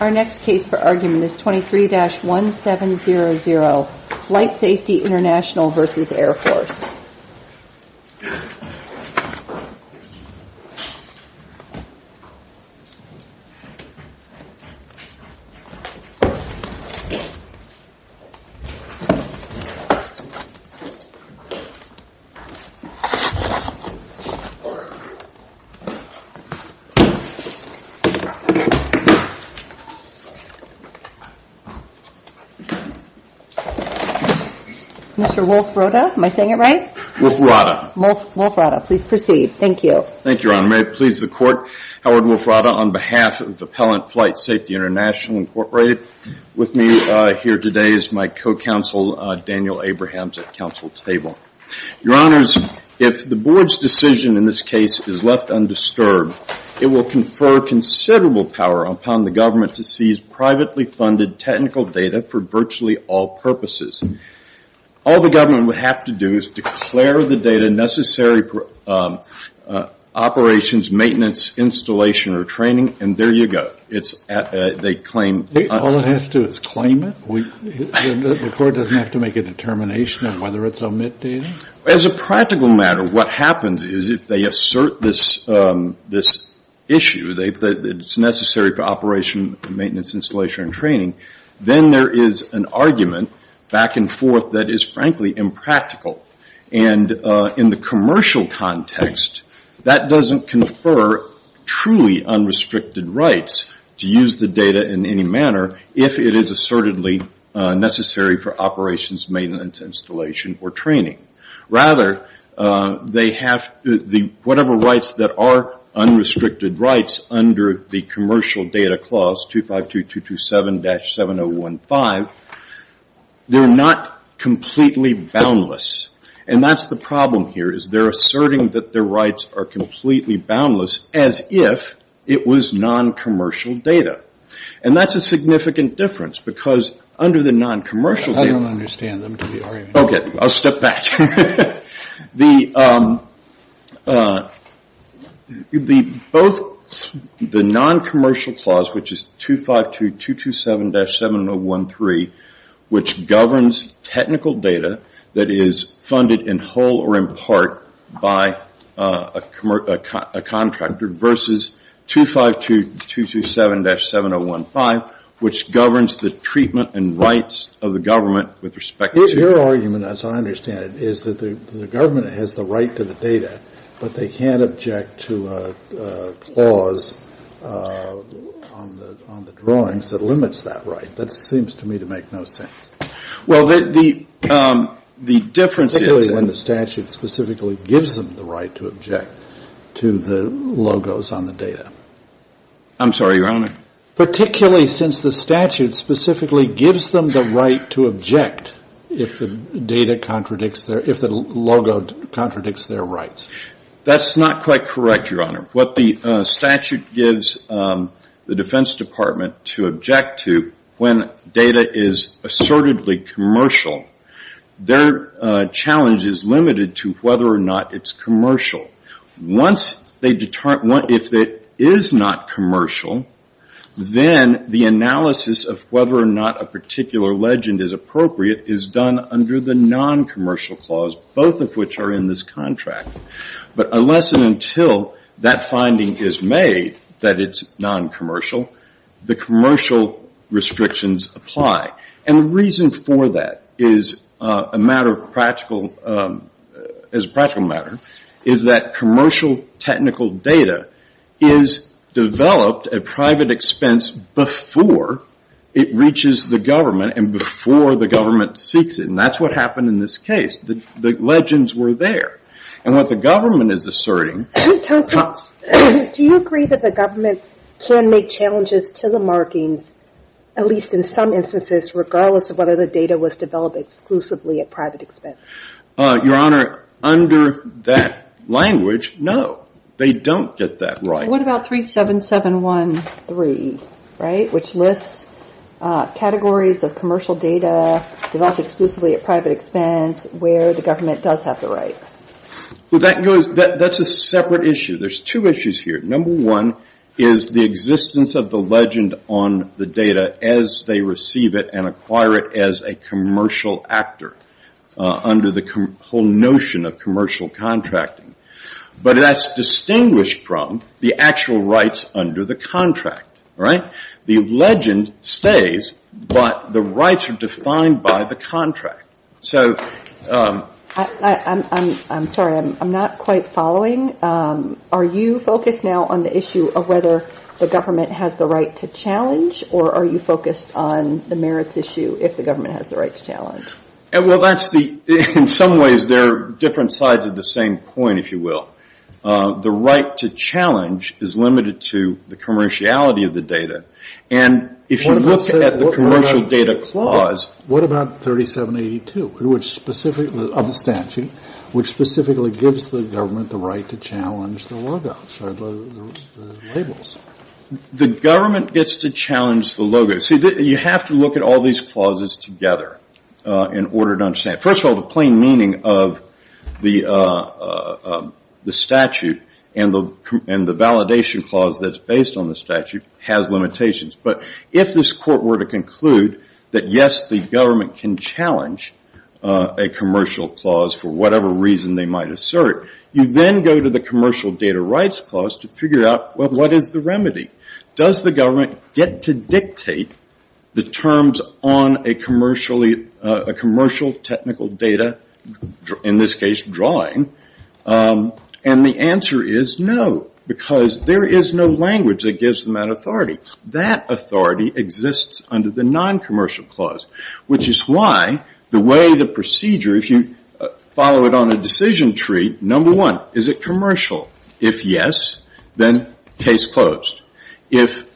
Our next case for argument is 23-1700 Flight Safety International v. Air Force Your Honors, if the Board's decision in this case is left undisturbed, it will confer considerable power upon the government to seize privately funded technical data for virtually all purposes. All the government would have to do is declare the data necessary for operations, maintenance, installation, or training, and there you go. They claim – All it has to do is claim it? The court doesn't have to make a determination on whether it's omit data? As a practical matter, what happens is if they assert this issue that it's necessary for operation, maintenance, installation, and training, then there is an argument back and forth that is frankly impractical. In the commercial context, that doesn't confer truly unrestricted rights to use the data in any manner if it is assertedly necessary for operations, maintenance, installation, or training. Rather, they have – whatever rights that are unrestricted rights under the Commercial Data Clause 252227-7015, they're not completely boundless. And that's the problem here is they're asserting that their rights are completely boundless as if it was non-commercial data. And that's a significant difference because under the non-commercial data – I'll step back. The non-commercial clause, which is 252227-7013, which governs technical data that is funded in whole or in part by a contractor versus 252227-7015, which governs the treatment and rights of the government with respect to – My argument, as I understand it, is that the government has the right to the data, but they can't object to a clause on the drawings that limits that right. That seems to me to make no sense. Well, the difference is – Particularly when the statute specifically gives them the right to object to the logos on the data. I'm sorry, Your Honor. Particularly since the statute specifically gives them the right to object if the logo contradicts their rights. That's not quite correct, Your Honor. What the statute gives the Defense Department to object to when data is assertedly commercial, their challenge is limited to whether or not it's commercial. Once they – if it is not commercial, then the analysis of whether or not a particular legend is appropriate is done under the non-commercial clause, both of which are in this contract. But unless and until that finding is made that it's non-commercial, the commercial restrictions apply. And the reason for that is a matter of practical – is a practical matter, is that commercial technical data is developed at private expense before it reaches the government and before the government seeks it. And that's what happened in this case. The legends were there. And what the government is asserting – Counsel, do you agree that the government can make challenges to the markings, at least in some instances, regardless of whether the data was developed exclusively at private expense? Your Honor, under that language, no. They don't get that right. What about 37713, right, which lists categories of commercial data developed exclusively at private expense where the government does have the right? Well, that goes – that's a separate issue. There's two issues here. Number one is the existence of the legend on the data as they receive it and acquire it as a commercial actor under the whole notion of commercial contracting. But that's distinguished from the actual rights under the contract, right? The legend stays, but the rights are defined by the contract. So – I'm sorry. I'm not quite following. Are you focused now on the issue of whether the government has the right to challenge or are you focused on the merits issue if the government has the right to challenge? Well, that's the – in some ways, they're different sides of the same coin, if you will. The right to challenge is limited to the commerciality of the data. And if you look at the commercial data clause – What about 3782, which specifically – of the statute, which specifically gives the government the right to challenge the logo, sorry, the labels? The government gets to challenge the logo. See, you have to look at all these clauses together in order to understand. First of all, the plain meaning of the statute and the validation clause that's based on the statute has limitations. But if this court were to conclude that, yes, the government can challenge a commercial clause for whatever reason they might assert, you then go to the commercial data rights clause to figure out, well, what is the remedy? Does the government get to dictate the terms on a commercially – a commercial technical data – in this case, drawing? And the answer is no, because there is no language that gives them that authority. That authority exists under the non-commercial clause, which is why the way the procedure – if you follow it on a decision tree, number one, is it commercial? If yes, then case closed. If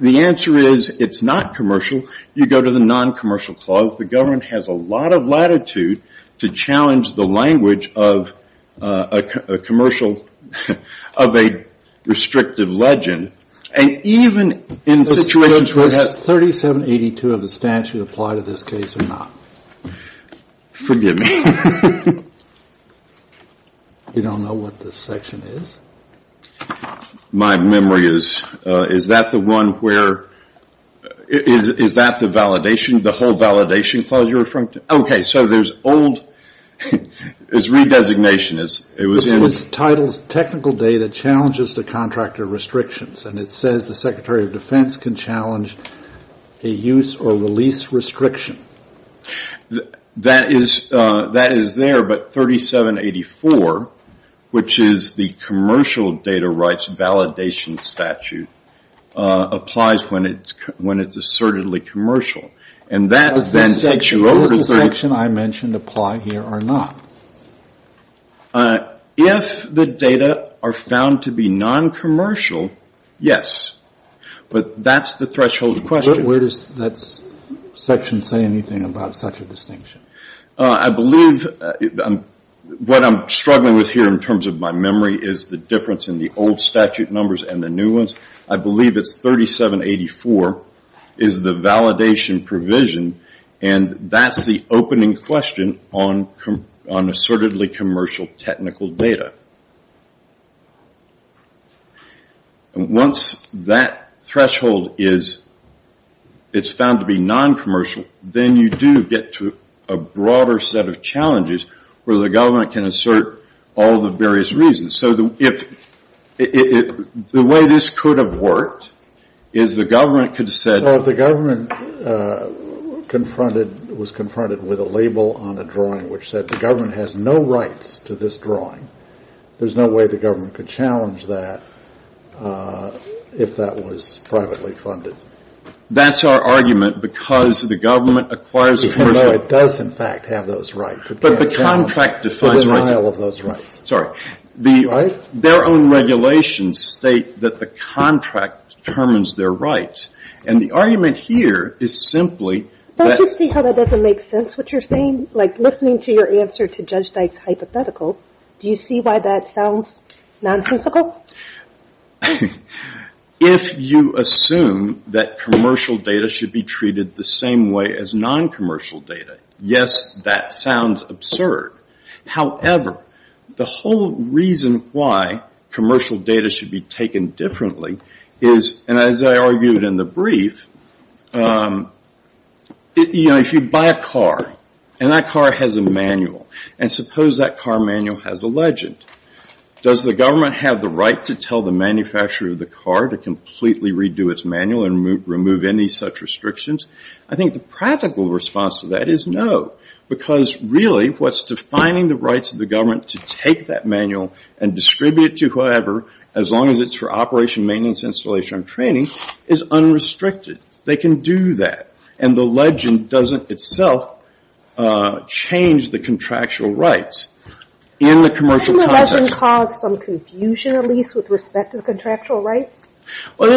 the answer is it's not commercial, you go to the non-commercial clause. The government has a lot of latitude to challenge the language of a commercial – of a restrictive legend. And even in situations where it has – Does 3782 of the statute apply to this case or not? Forgive me. You don't know what this section is? My memory is – is that the one where – is that the validation – the whole validation clause you're referring to? Okay. So there's old – it's re-designation. It was in – It was titled Technical Data Challenges to Contractor Restrictions, and it says the Secretary of Defense can challenge a use or release restriction. That is – that is there, but 3784, which is the commercial data rights validation statute, applies when it's – when it's assertedly commercial. And that then takes you over to – Does the section I mentioned apply here or not? If the data are found to be non-commercial, yes. But that's the threshold question. But where does that section say anything about such a distinction? I believe – what I'm struggling with here in terms of my memory is the difference in the old statute numbers and the new ones. I believe it's 3784 is the validation provision, and that's the opening question on assertedly commercial technical data. Once that threshold is – it's found to be non-commercial, then you do get to a broader set of challenges where the government can assert all the various reasons. So if – the way this could have worked is the government could have said – So if the government confronted – was confronted with a label on a drawing which said the government has no rights to this drawing, there's no way the government could challenge that if that was privately funded. That's our argument, because the government acquires – Even though it does, in fact, have those rights, it can't challenge the denial of those rights. But the contract defines rights. Sorry. Their own regulations state that the contract determines their rights. And the argument here is simply – Don't you see how that doesn't make sense, what you're saying? Like listening to your answer to Judge Dyke's hypothetical, do you see why that sounds nonsensical? If you assume that commercial data should be treated the same way as non-commercial data, yes, that sounds absurd. However, the whole reason why commercial data should be taken differently is – And as I argued in the brief, if you buy a car and that car has a manual, and suppose that car manual has a legend, does the government have the right to tell the manufacturer of the car to completely redo its manual and remove any such restrictions? I think the practical response to that is no, because really, what's defining the rights of the government to take that manual and distribute it to whoever, as long as it's for operation, maintenance, installation, and training, is unrestricted. They can do that. And the legend doesn't itself change the contractual rights in the commercial context. Doesn't the legend cause some confusion, at least, with respect to the contractual rights? Well,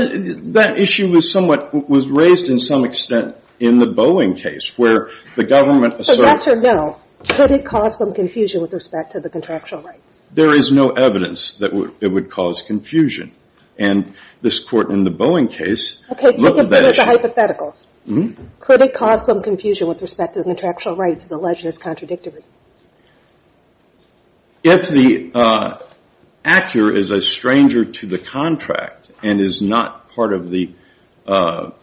that issue was somewhat – was raised in some extent in the Boeing case, where the government asserted – So yes or no, could it cause some confusion with respect to the contractual rights? There is no evidence that it would cause confusion. And this court in the Boeing case – Okay, take it as a hypothetical. Could it cause some confusion with respect to the contractual rights if the legend is contradictory? If the actor is a stranger to the contract and is not part of the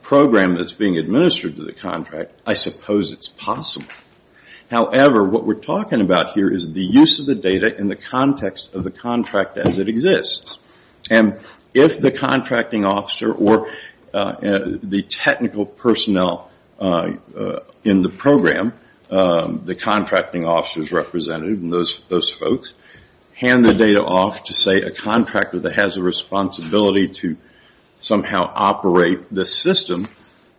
program that's being administered to the contract, I suppose it's possible. However, what we're talking about here is the use of the data in the context of the contract as it exists. And if the contracting officer or the technical personnel in the program – the contracting officer's representative and those folks – hand the data off to, say, a contractor that has a responsibility to somehow operate the system,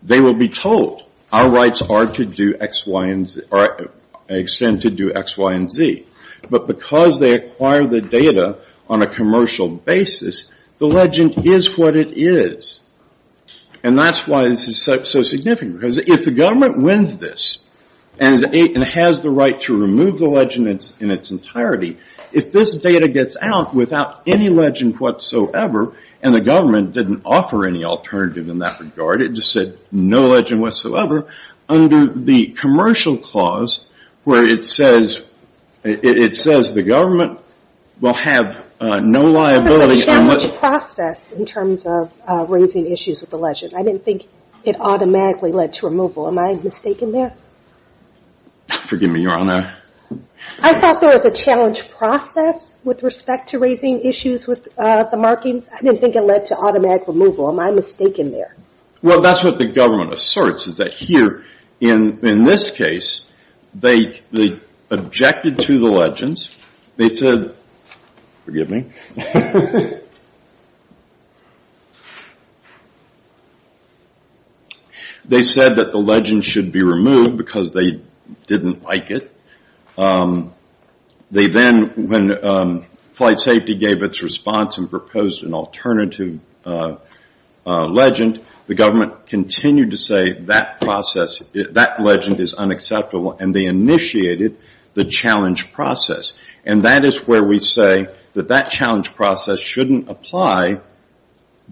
they will be told, our rights are to do X, Y, and Z – or extend to do X, Y, and Z. But because they acquire the data on a commercial basis, the legend is what it is. And that's why this is so significant, because if the government wins this and has the right to remove the legend in its entirety, if this data gets out without any legend whatsoever – and the government didn't offer any alternative in that regard, it just said no legend whatsoever – under the commercial clause, where it says the government will have no liability on what – Because there's a challenge process in terms of raising issues with the legend. I didn't think it automatically led to removal. Am I mistaken there? Forgive me, Your Honor. I thought there was a challenge process with respect to raising issues with the markings. I didn't think it led to automatic removal. Am I mistaken there? Well, that's what the government asserts, is that here, in this case, they objected to the legends, they said – forgive me – they said that the legend should be removed because they didn't like it. They then, when Flight Safety gave its response and proposed an alternative legend, the government continued to say that process – that legend is unacceptable, and they initiated the challenge process. And that is where we say that that challenge process shouldn't apply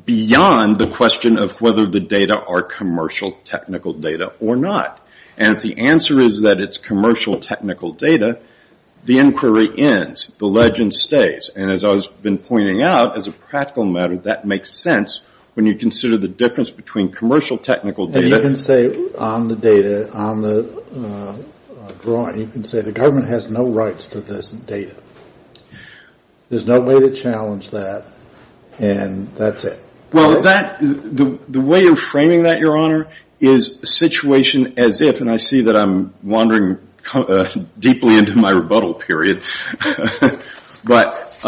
beyond the question of whether the data are commercial technical data or not. And if the answer is that it's commercial technical data, the inquiry ends. The legend stays. And as I've been pointing out, as a practical matter, that makes sense when you consider the difference between commercial technical data – And you can say on the data, on the drawing, you can say the government has no rights to this data. There's no way to challenge that, and that's it. Well, that – the way of framing that, Your Honor, is a situation as if – and I see that I'm wandering deeply into my rebuttal period – but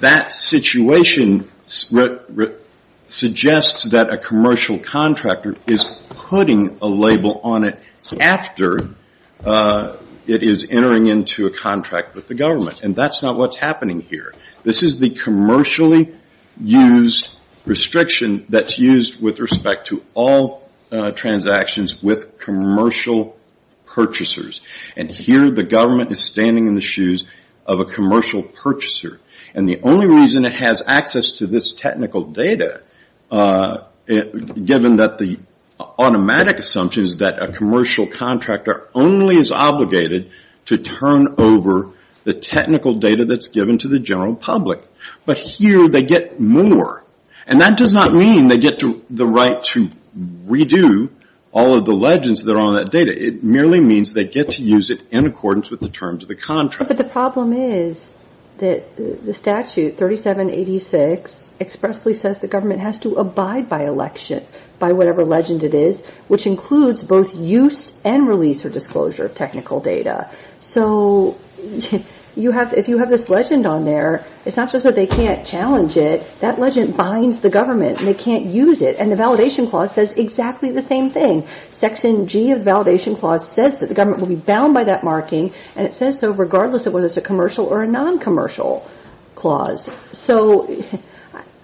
that situation suggests that a commercial contractor is putting a label on it after it is entering into a contract with the government. And that's not what's happening here. This is the commercially used restriction that's used with respect to all transactions with commercial purchasers. And here the government is standing in the shoes of a commercial purchaser. And the only reason it has access to this technical data, given that the automatic assumption is that a commercial contractor only is obligated to turn over the technical data that's given to the general public. But here they get more. And that does not mean they get the right to redo all of the legends that are on that data. It merely means they get to use it in accordance with the terms of the contract. But the problem is that the statute, 3786, expressly says the government has to abide by election, by whatever legend it is, which includes both use and release or disclosure of technical data. So if you have this legend on there, it's not just that they can't challenge it. That legend binds the government and they can't use it. And the Validation Clause says exactly the same thing. Section G of the Validation Clause says that the government will be bound by that marking. And it says so regardless of whether it's a commercial or a non-commercial clause. So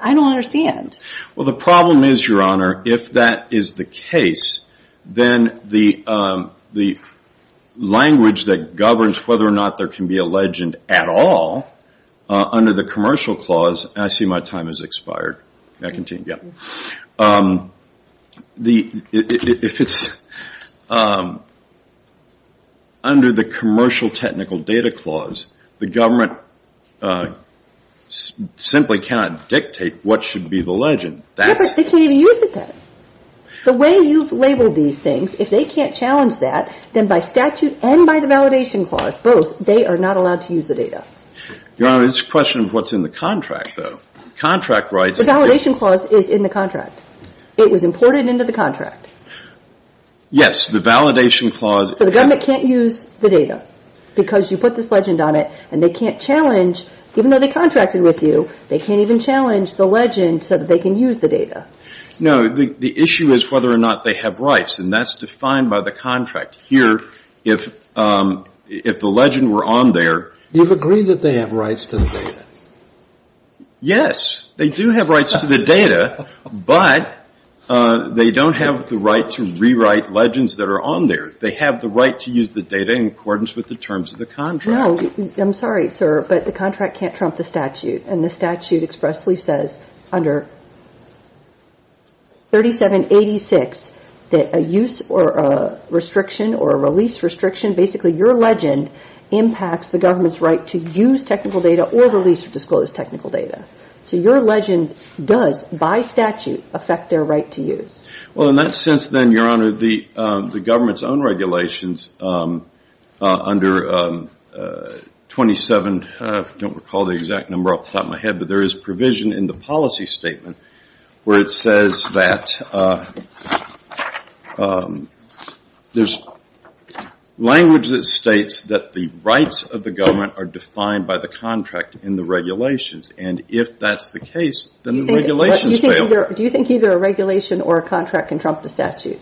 I don't understand. Well, the problem is, Your Honor, if that is the case, then the language that governs whether or not there can be a legend at all under the Commercial Clause, and I see my time has expired. Under the Commercial Technical Data Clause, the government simply cannot dictate what should be the legend. Yeah, but they can't even use it then. The way you've labeled these things, if they can't challenge that, then by statute and by the Validation Clause, both, they are not allowed to use the data. Your Honor, it's a question of what's in the contract, though. Contract rights... The Validation Clause is in the contract. It was imported into the contract. Yes, the Validation Clause... So the government can't use the data because you put this legend on it and they can't challenge, even though they contracted with you, they can't even challenge the legend so that they can use the data. No. The issue is whether or not they have rights, and that's defined by the contract. Here, if the legend were on there... You've agreed that they have rights to the data. Yes. They do have rights to the data, but they don't have the right to rewrite legends that are on there. They have the right to use the data in accordance with the terms of the contract. No. I'm sorry, sir, but the contract can't trump the statute, and the statute expressly says under 3786 that a use or a restriction or a release restriction, basically, your legend impacts the government's right to use technical data or release or disclose technical data. So your legend does, by statute, affect their right to use. Well, in that sense, then, Your Honor, the government's own regulations under 27, I don't recall the exact number off the top of my head, but there is provision in the policy statement where it says that there's language that states that the rights of the government are defined by the contract in the regulations, and if that's the case, then the regulations fail. Do you think either a regulation or a contract can trump the statute?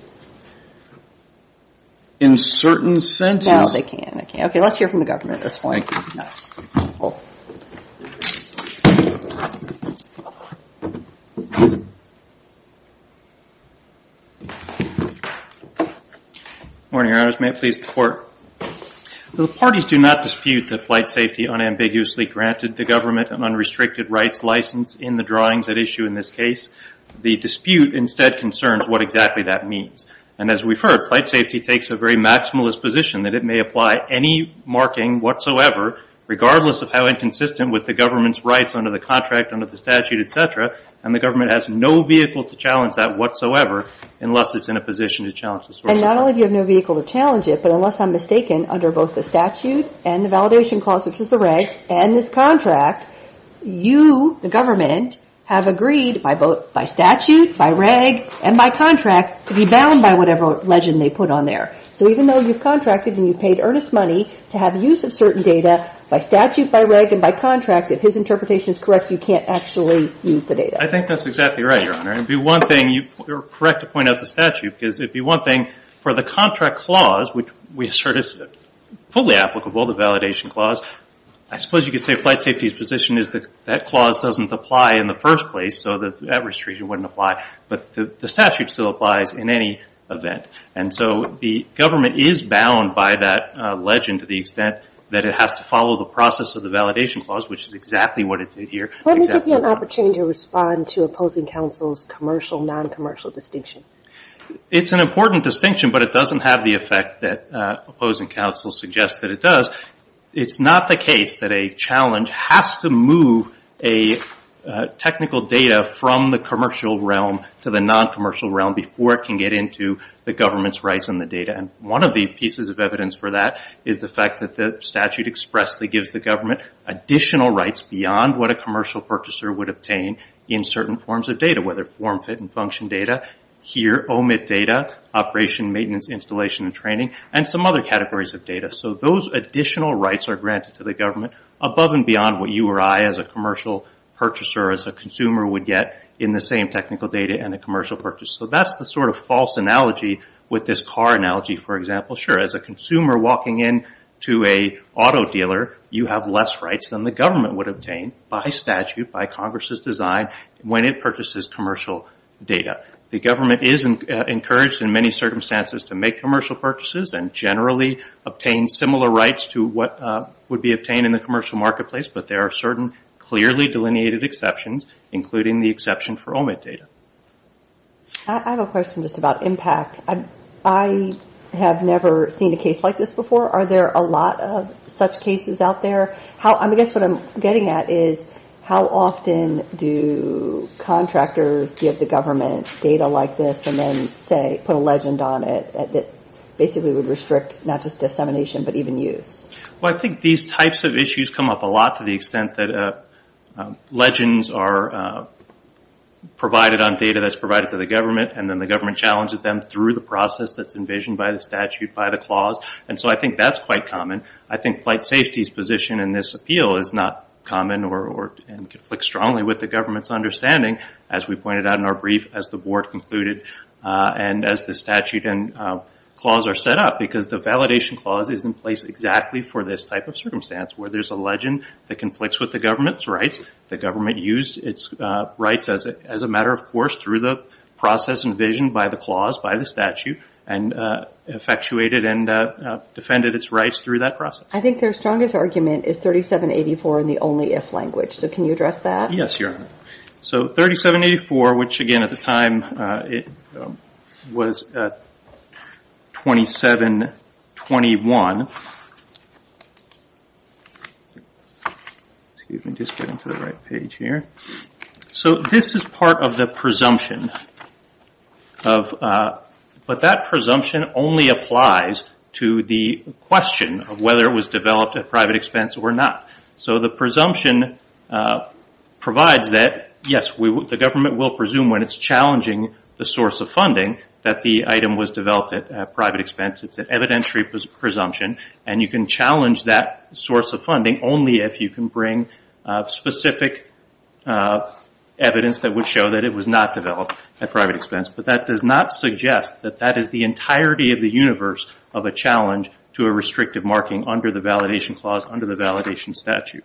In certain senses. No, they can't. Okay, let's hear from the government at this point. Morning, Your Honors. May it please the Court. The parties do not dispute that flight safety unambiguously granted the government an unrestricted rights license in the drawings at issue in this case. The dispute, instead, concerns what exactly that means. And as we've heard, flight safety takes a very maximalist position that it may apply any marking whatsoever, regardless of how inconsistent with the government's rights under the contract, under the statute, et cetera, and the government has no vehicle to challenge that whatsoever, unless it's in a position to challenge this. And not only do you have no vehicle to challenge it, but unless I'm mistaken, under both the and the validation clause, which is the regs, and this contract, you, the government, have agreed by statute, by reg, and by contract to be bound by whatever legend they put on there. So even though you've contracted and you've paid earnest money to have use of certain data, by statute, by reg, and by contract, if his interpretation is correct, you can't actually use the data. I think that's exactly right, Your Honor. It would be one thing, you're correct to point out the statute, because it would be one thing For the contract clause, which we assert is fully applicable, the validation clause, I suppose you could say flight safety's position is that that clause doesn't apply in the first place, so that restriction wouldn't apply, but the statute still applies in any event. And so the government is bound by that legend to the extent that it has to follow the process of the validation clause, which is exactly what it did here. Let me give you an opportunity to respond to opposing counsel's commercial, non-commercial distinction. It's an important distinction, but it doesn't have the effect that opposing counsel suggests that it does. It's not the case that a challenge has to move a technical data from the commercial realm to the non-commercial realm before it can get into the government's rights on the data. And one of the pieces of evidence for that is the fact that the statute expressly gives the government additional rights beyond what a commercial purchaser would obtain in certain forms of data, whether form, fit, and function data, here, OMIT data, operation, maintenance, installation, and training, and some other categories of data. So those additional rights are granted to the government above and beyond what you or I as a commercial purchaser, as a consumer, would get in the same technical data and a commercial purchase. So that's the sort of false analogy with this car analogy, for example. Sure, as a consumer walking into an auto dealer, you have less rights than the government would obtain by statute, by Congress's design, when it purchases commercial data. The government is encouraged in many circumstances to make commercial purchases and generally obtain similar rights to what would be obtained in the commercial marketplace, but there are certain clearly delineated exceptions, including the exception for OMIT data. I have a question just about impact. I have never seen a case like this before. Are there a lot of such cases out there? I guess what I'm getting at is how often do contractors give the government data like this and then put a legend on it that basically would restrict not just dissemination, but even use? Well, I think these types of issues come up a lot to the extent that legends are provided on data that's provided to the government, and then the government challenges them through the process that's envisioned by the statute, by the clause, and so I think that's quite common. I think flight safety's position in this appeal is not common and conflicts strongly with the government's understanding, as we pointed out in our brief, as the board concluded, and as the statute and clause are set up, because the validation clause is in place exactly for this type of circumstance, where there's a legend that conflicts with the government's rights. The government used its rights as a matter of course through the process envisioned by the clause, by the statute, and effectuated and defended its rights through that process. I think their strongest argument is 3784 in the only if language, so can you address that? Yes, Your Honor. So 3784, which again at the time was 2721, so this is part of the presumption of the but that presumption only applies to the question of whether it was developed at private expense or not. So the presumption provides that, yes, the government will presume when it's challenging the source of funding that the item was developed at private expense. It's an evidentiary presumption, and you can challenge that source of funding only if you can bring specific evidence that would show that it was not developed at private expense, but that does not suggest that that is the entirety of the universe of a challenge to a restrictive marking under the validation clause, under the validation statute.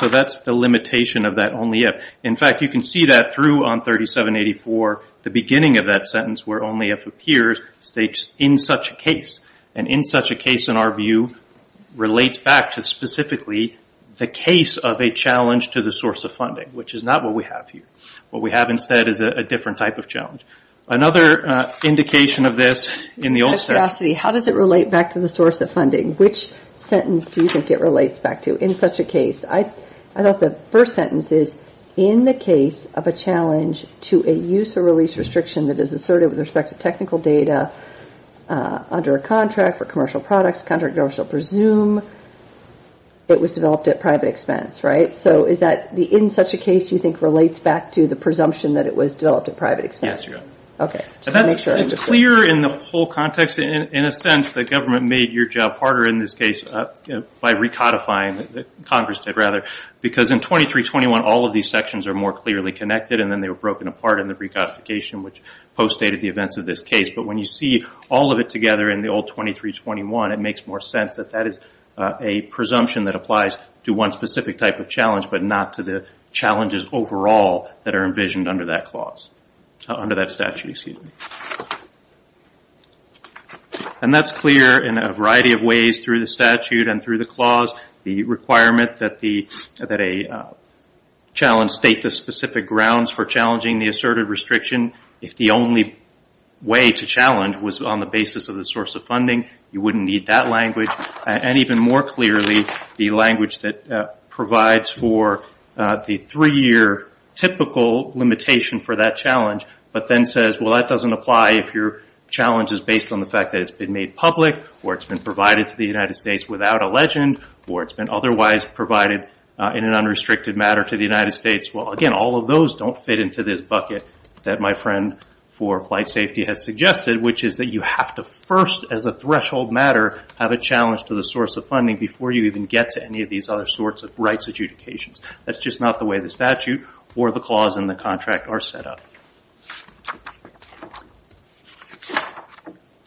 So that's the limitation of that only if. In fact, you can see that through on 3784, the beginning of that sentence where only if appears states, in such a case. In such a case, in our view, relates back to specifically the case of a challenge to the source of funding, which is not what we have here. What we have instead is a different type of challenge. Another indication of this in the old... Out of curiosity, how does it relate back to the source of funding? Which sentence do you think it relates back to in such a case? I thought the first sentence is, in the case of a challenge to a use or release restriction that is assertive with respect to technical data under a contract for commercial products, contract owners shall presume it was developed at private expense, right? In such a case, do you think it relates back to the presumption that it was developed at private expense? Yes, you're right. Okay. Just to make sure I understood. It's clear in the whole context in a sense that government made your job harder in this case by recodifying, Congress did rather, because in 2321, all of these sections are more clearly connected and then they were broken apart in the recodification which postdated the events of this case. But when you see all of it together in the old 2321, it makes more sense that that is a presumption that applies to one specific type of challenge but not to the challenges overall that are envisioned under that statute. And that's clear in a variety of ways through the statute and through the clause. The requirement that a challenge state the specific grounds for challenging the assertive restriction. If the only way to challenge was on the basis of the source of funding, you wouldn't need that language and even more clearly, the language that provides for the three-year typical limitation for that challenge but then says, well, that doesn't apply if your challenge is based on the fact that it's been made public or it's been provided to the United States without a legend or it's been otherwise provided in an unrestricted matter to the United States. Well, again, all of those don't fit into this bucket that my friend for flight safety has suggested, which is that you have to first, as a threshold matter, have a challenge to the source of funding before you even get to any of these other sorts of rights adjudications. That's just not the way the statute or the clause in the contract are set up.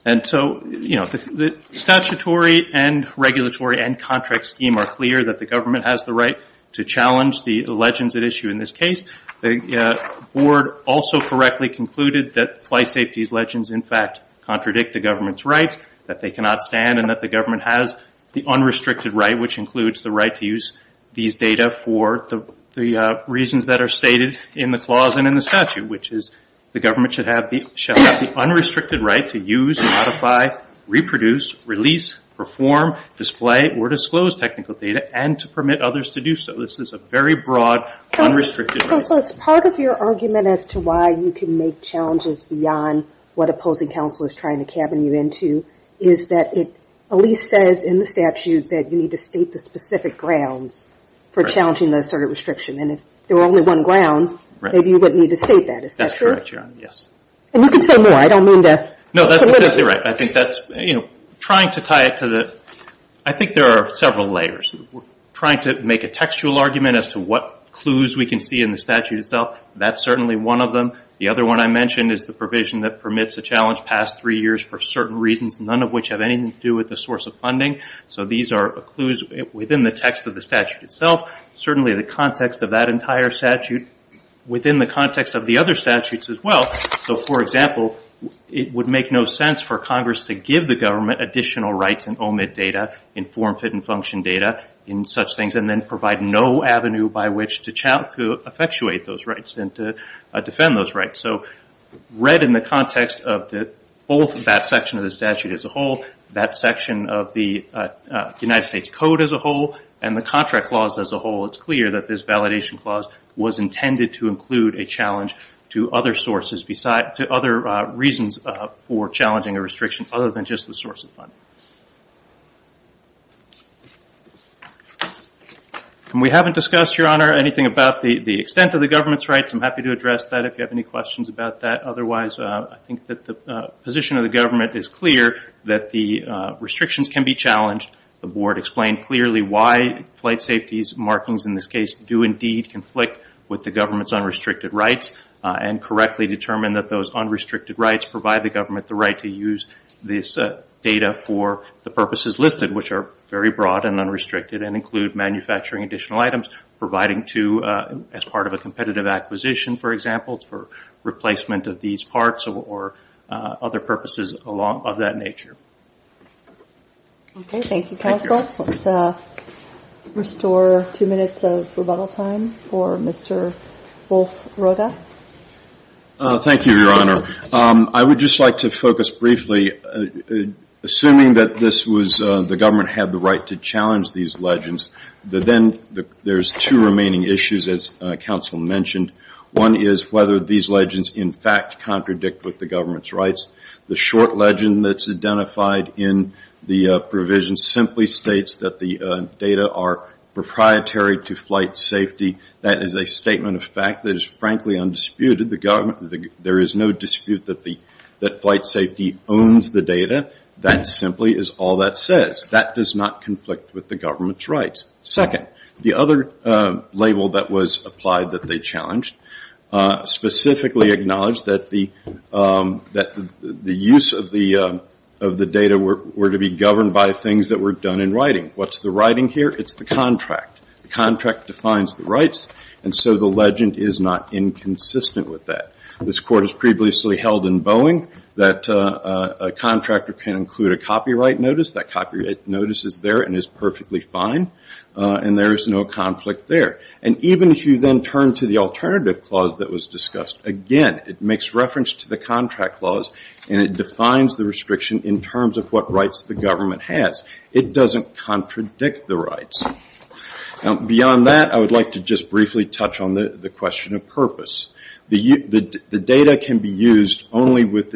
The statutory and regulatory and contract scheme are clear that the government has the right to challenge the legends at issue in this case. The board also correctly concluded that flight safety's legends, in fact, contradict the government's rights, that they cannot stand and that the government has the unrestricted right, which includes the right to use these data for the reasons that are stated in the clause and in the statute, which is the government shall have the unrestricted right to use, modify, reproduce, release, perform, display, or disclose technical data and to permit others to do so. So this is a very broad, unrestricted right. Counsel, as part of your argument as to why you can make challenges beyond what opposing counsel is trying to cabin you into, is that it at least says in the statute that you need to state the specific grounds for challenging the asserted restriction. And if there were only one ground, maybe you wouldn't need to state that. Is that true? That's correct, Your Honor. Yes. And you can say more. I don't mean to... No, that's exactly right. I think that's... You know, trying to tie it to the... I think there are several layers. We're trying to make a textual argument as to what clues we can see in the statute itself. That's certainly one of them. The other one I mentioned is the provision that permits a challenge past three years for certain reasons, none of which have anything to do with the source of funding. So these are clues within the text of the statute itself. Certainly the context of that entire statute, within the context of the other statutes as well. So, for example, it would make no sense for Congress to give the government additional rights in OMID data, in form, fit, and function data in such things, and then provide no avenue by which to effectuate those rights and to defend those rights. So read in the context of both that section of the statute as a whole, that section of the United States Code as a whole, and the Contract Clause as a whole, it's clear that this validation clause was intended to include a challenge to other sources, to other reasons for challenging a restriction other than just the source of funding. We haven't discussed, Your Honor, anything about the extent of the government's rights. I'm happy to address that if you have any questions about that. Otherwise, I think that the position of the government is clear that the restrictions can be challenged. The Board explained clearly why flight safety's markings in this case do indeed conflict with the government's unrestricted rights, and correctly determined that those unrestricted rights provide the government the right to use this data for the purposes listed, which are very broad and unrestricted, and include manufacturing additional items, providing to as part of a competitive acquisition, for example, for replacement of these parts or other purposes of that nature. Okay. Thank you, Counsel. Let's restore two minutes of rebuttal time for Mr. Wolf-Rhoda. Thank you, Your Honor. I would just like to focus briefly, assuming that the government had the right to challenge these legends, that then there's two remaining issues, as Counsel mentioned. One is whether these legends, in fact, contradict with the government's rights. The short legend that's identified in the provision simply states that the data are proprietary to flight safety. That is a statement of fact that is, frankly, undisputed. There is no dispute that flight safety owns the data. That simply is all that says. That does not conflict with the government's rights. Second, the other label that was applied that they challenged specifically acknowledged that the use of the data were to be governed by things that were done in writing. What's the writing here? It's the contract. The contract defines the rights, and so the legend is not inconsistent with that. This Court has previously held in Boeing that a contractor can include a copyright notice. That copyright notice is there and is perfectly fine, and there is no conflict there. Even if you then turn to the alternative clause that was discussed, again, it makes reference to the contract clause, and it defines the restriction in terms of what rights the government has. It doesn't contradict the rights. Beyond that, I would like to just briefly touch on the question of purpose. The data can be used only with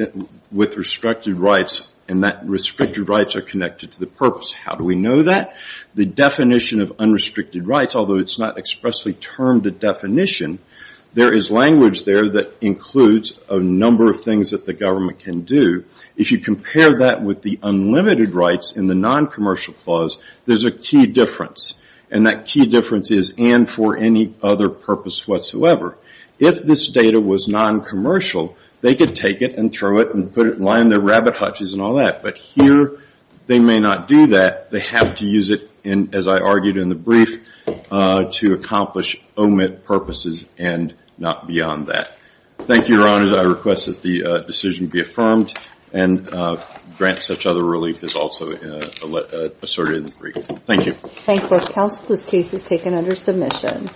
restricted rights, and that restricted rights are connected to the purpose. How do we know that? The definition of unrestricted rights, although it's not expressly termed a definition, there is language there that includes a number of things that the government can do. If you compare that with the unlimited rights in the non-commercial clause, there's a key difference, and that key difference is, and for any other purpose whatsoever. If this data was non-commercial, they could take it and throw it and put it and line their rabbit hutches and all that, but here they may not do that. They have to use it, as I argued in the brief, to accomplish omit purposes and not beyond that. Thank you, Your Honors. I request that the decision be affirmed and grant such other relief as also assorted in the brief. Thank you. Thank you. This case is taken under submission.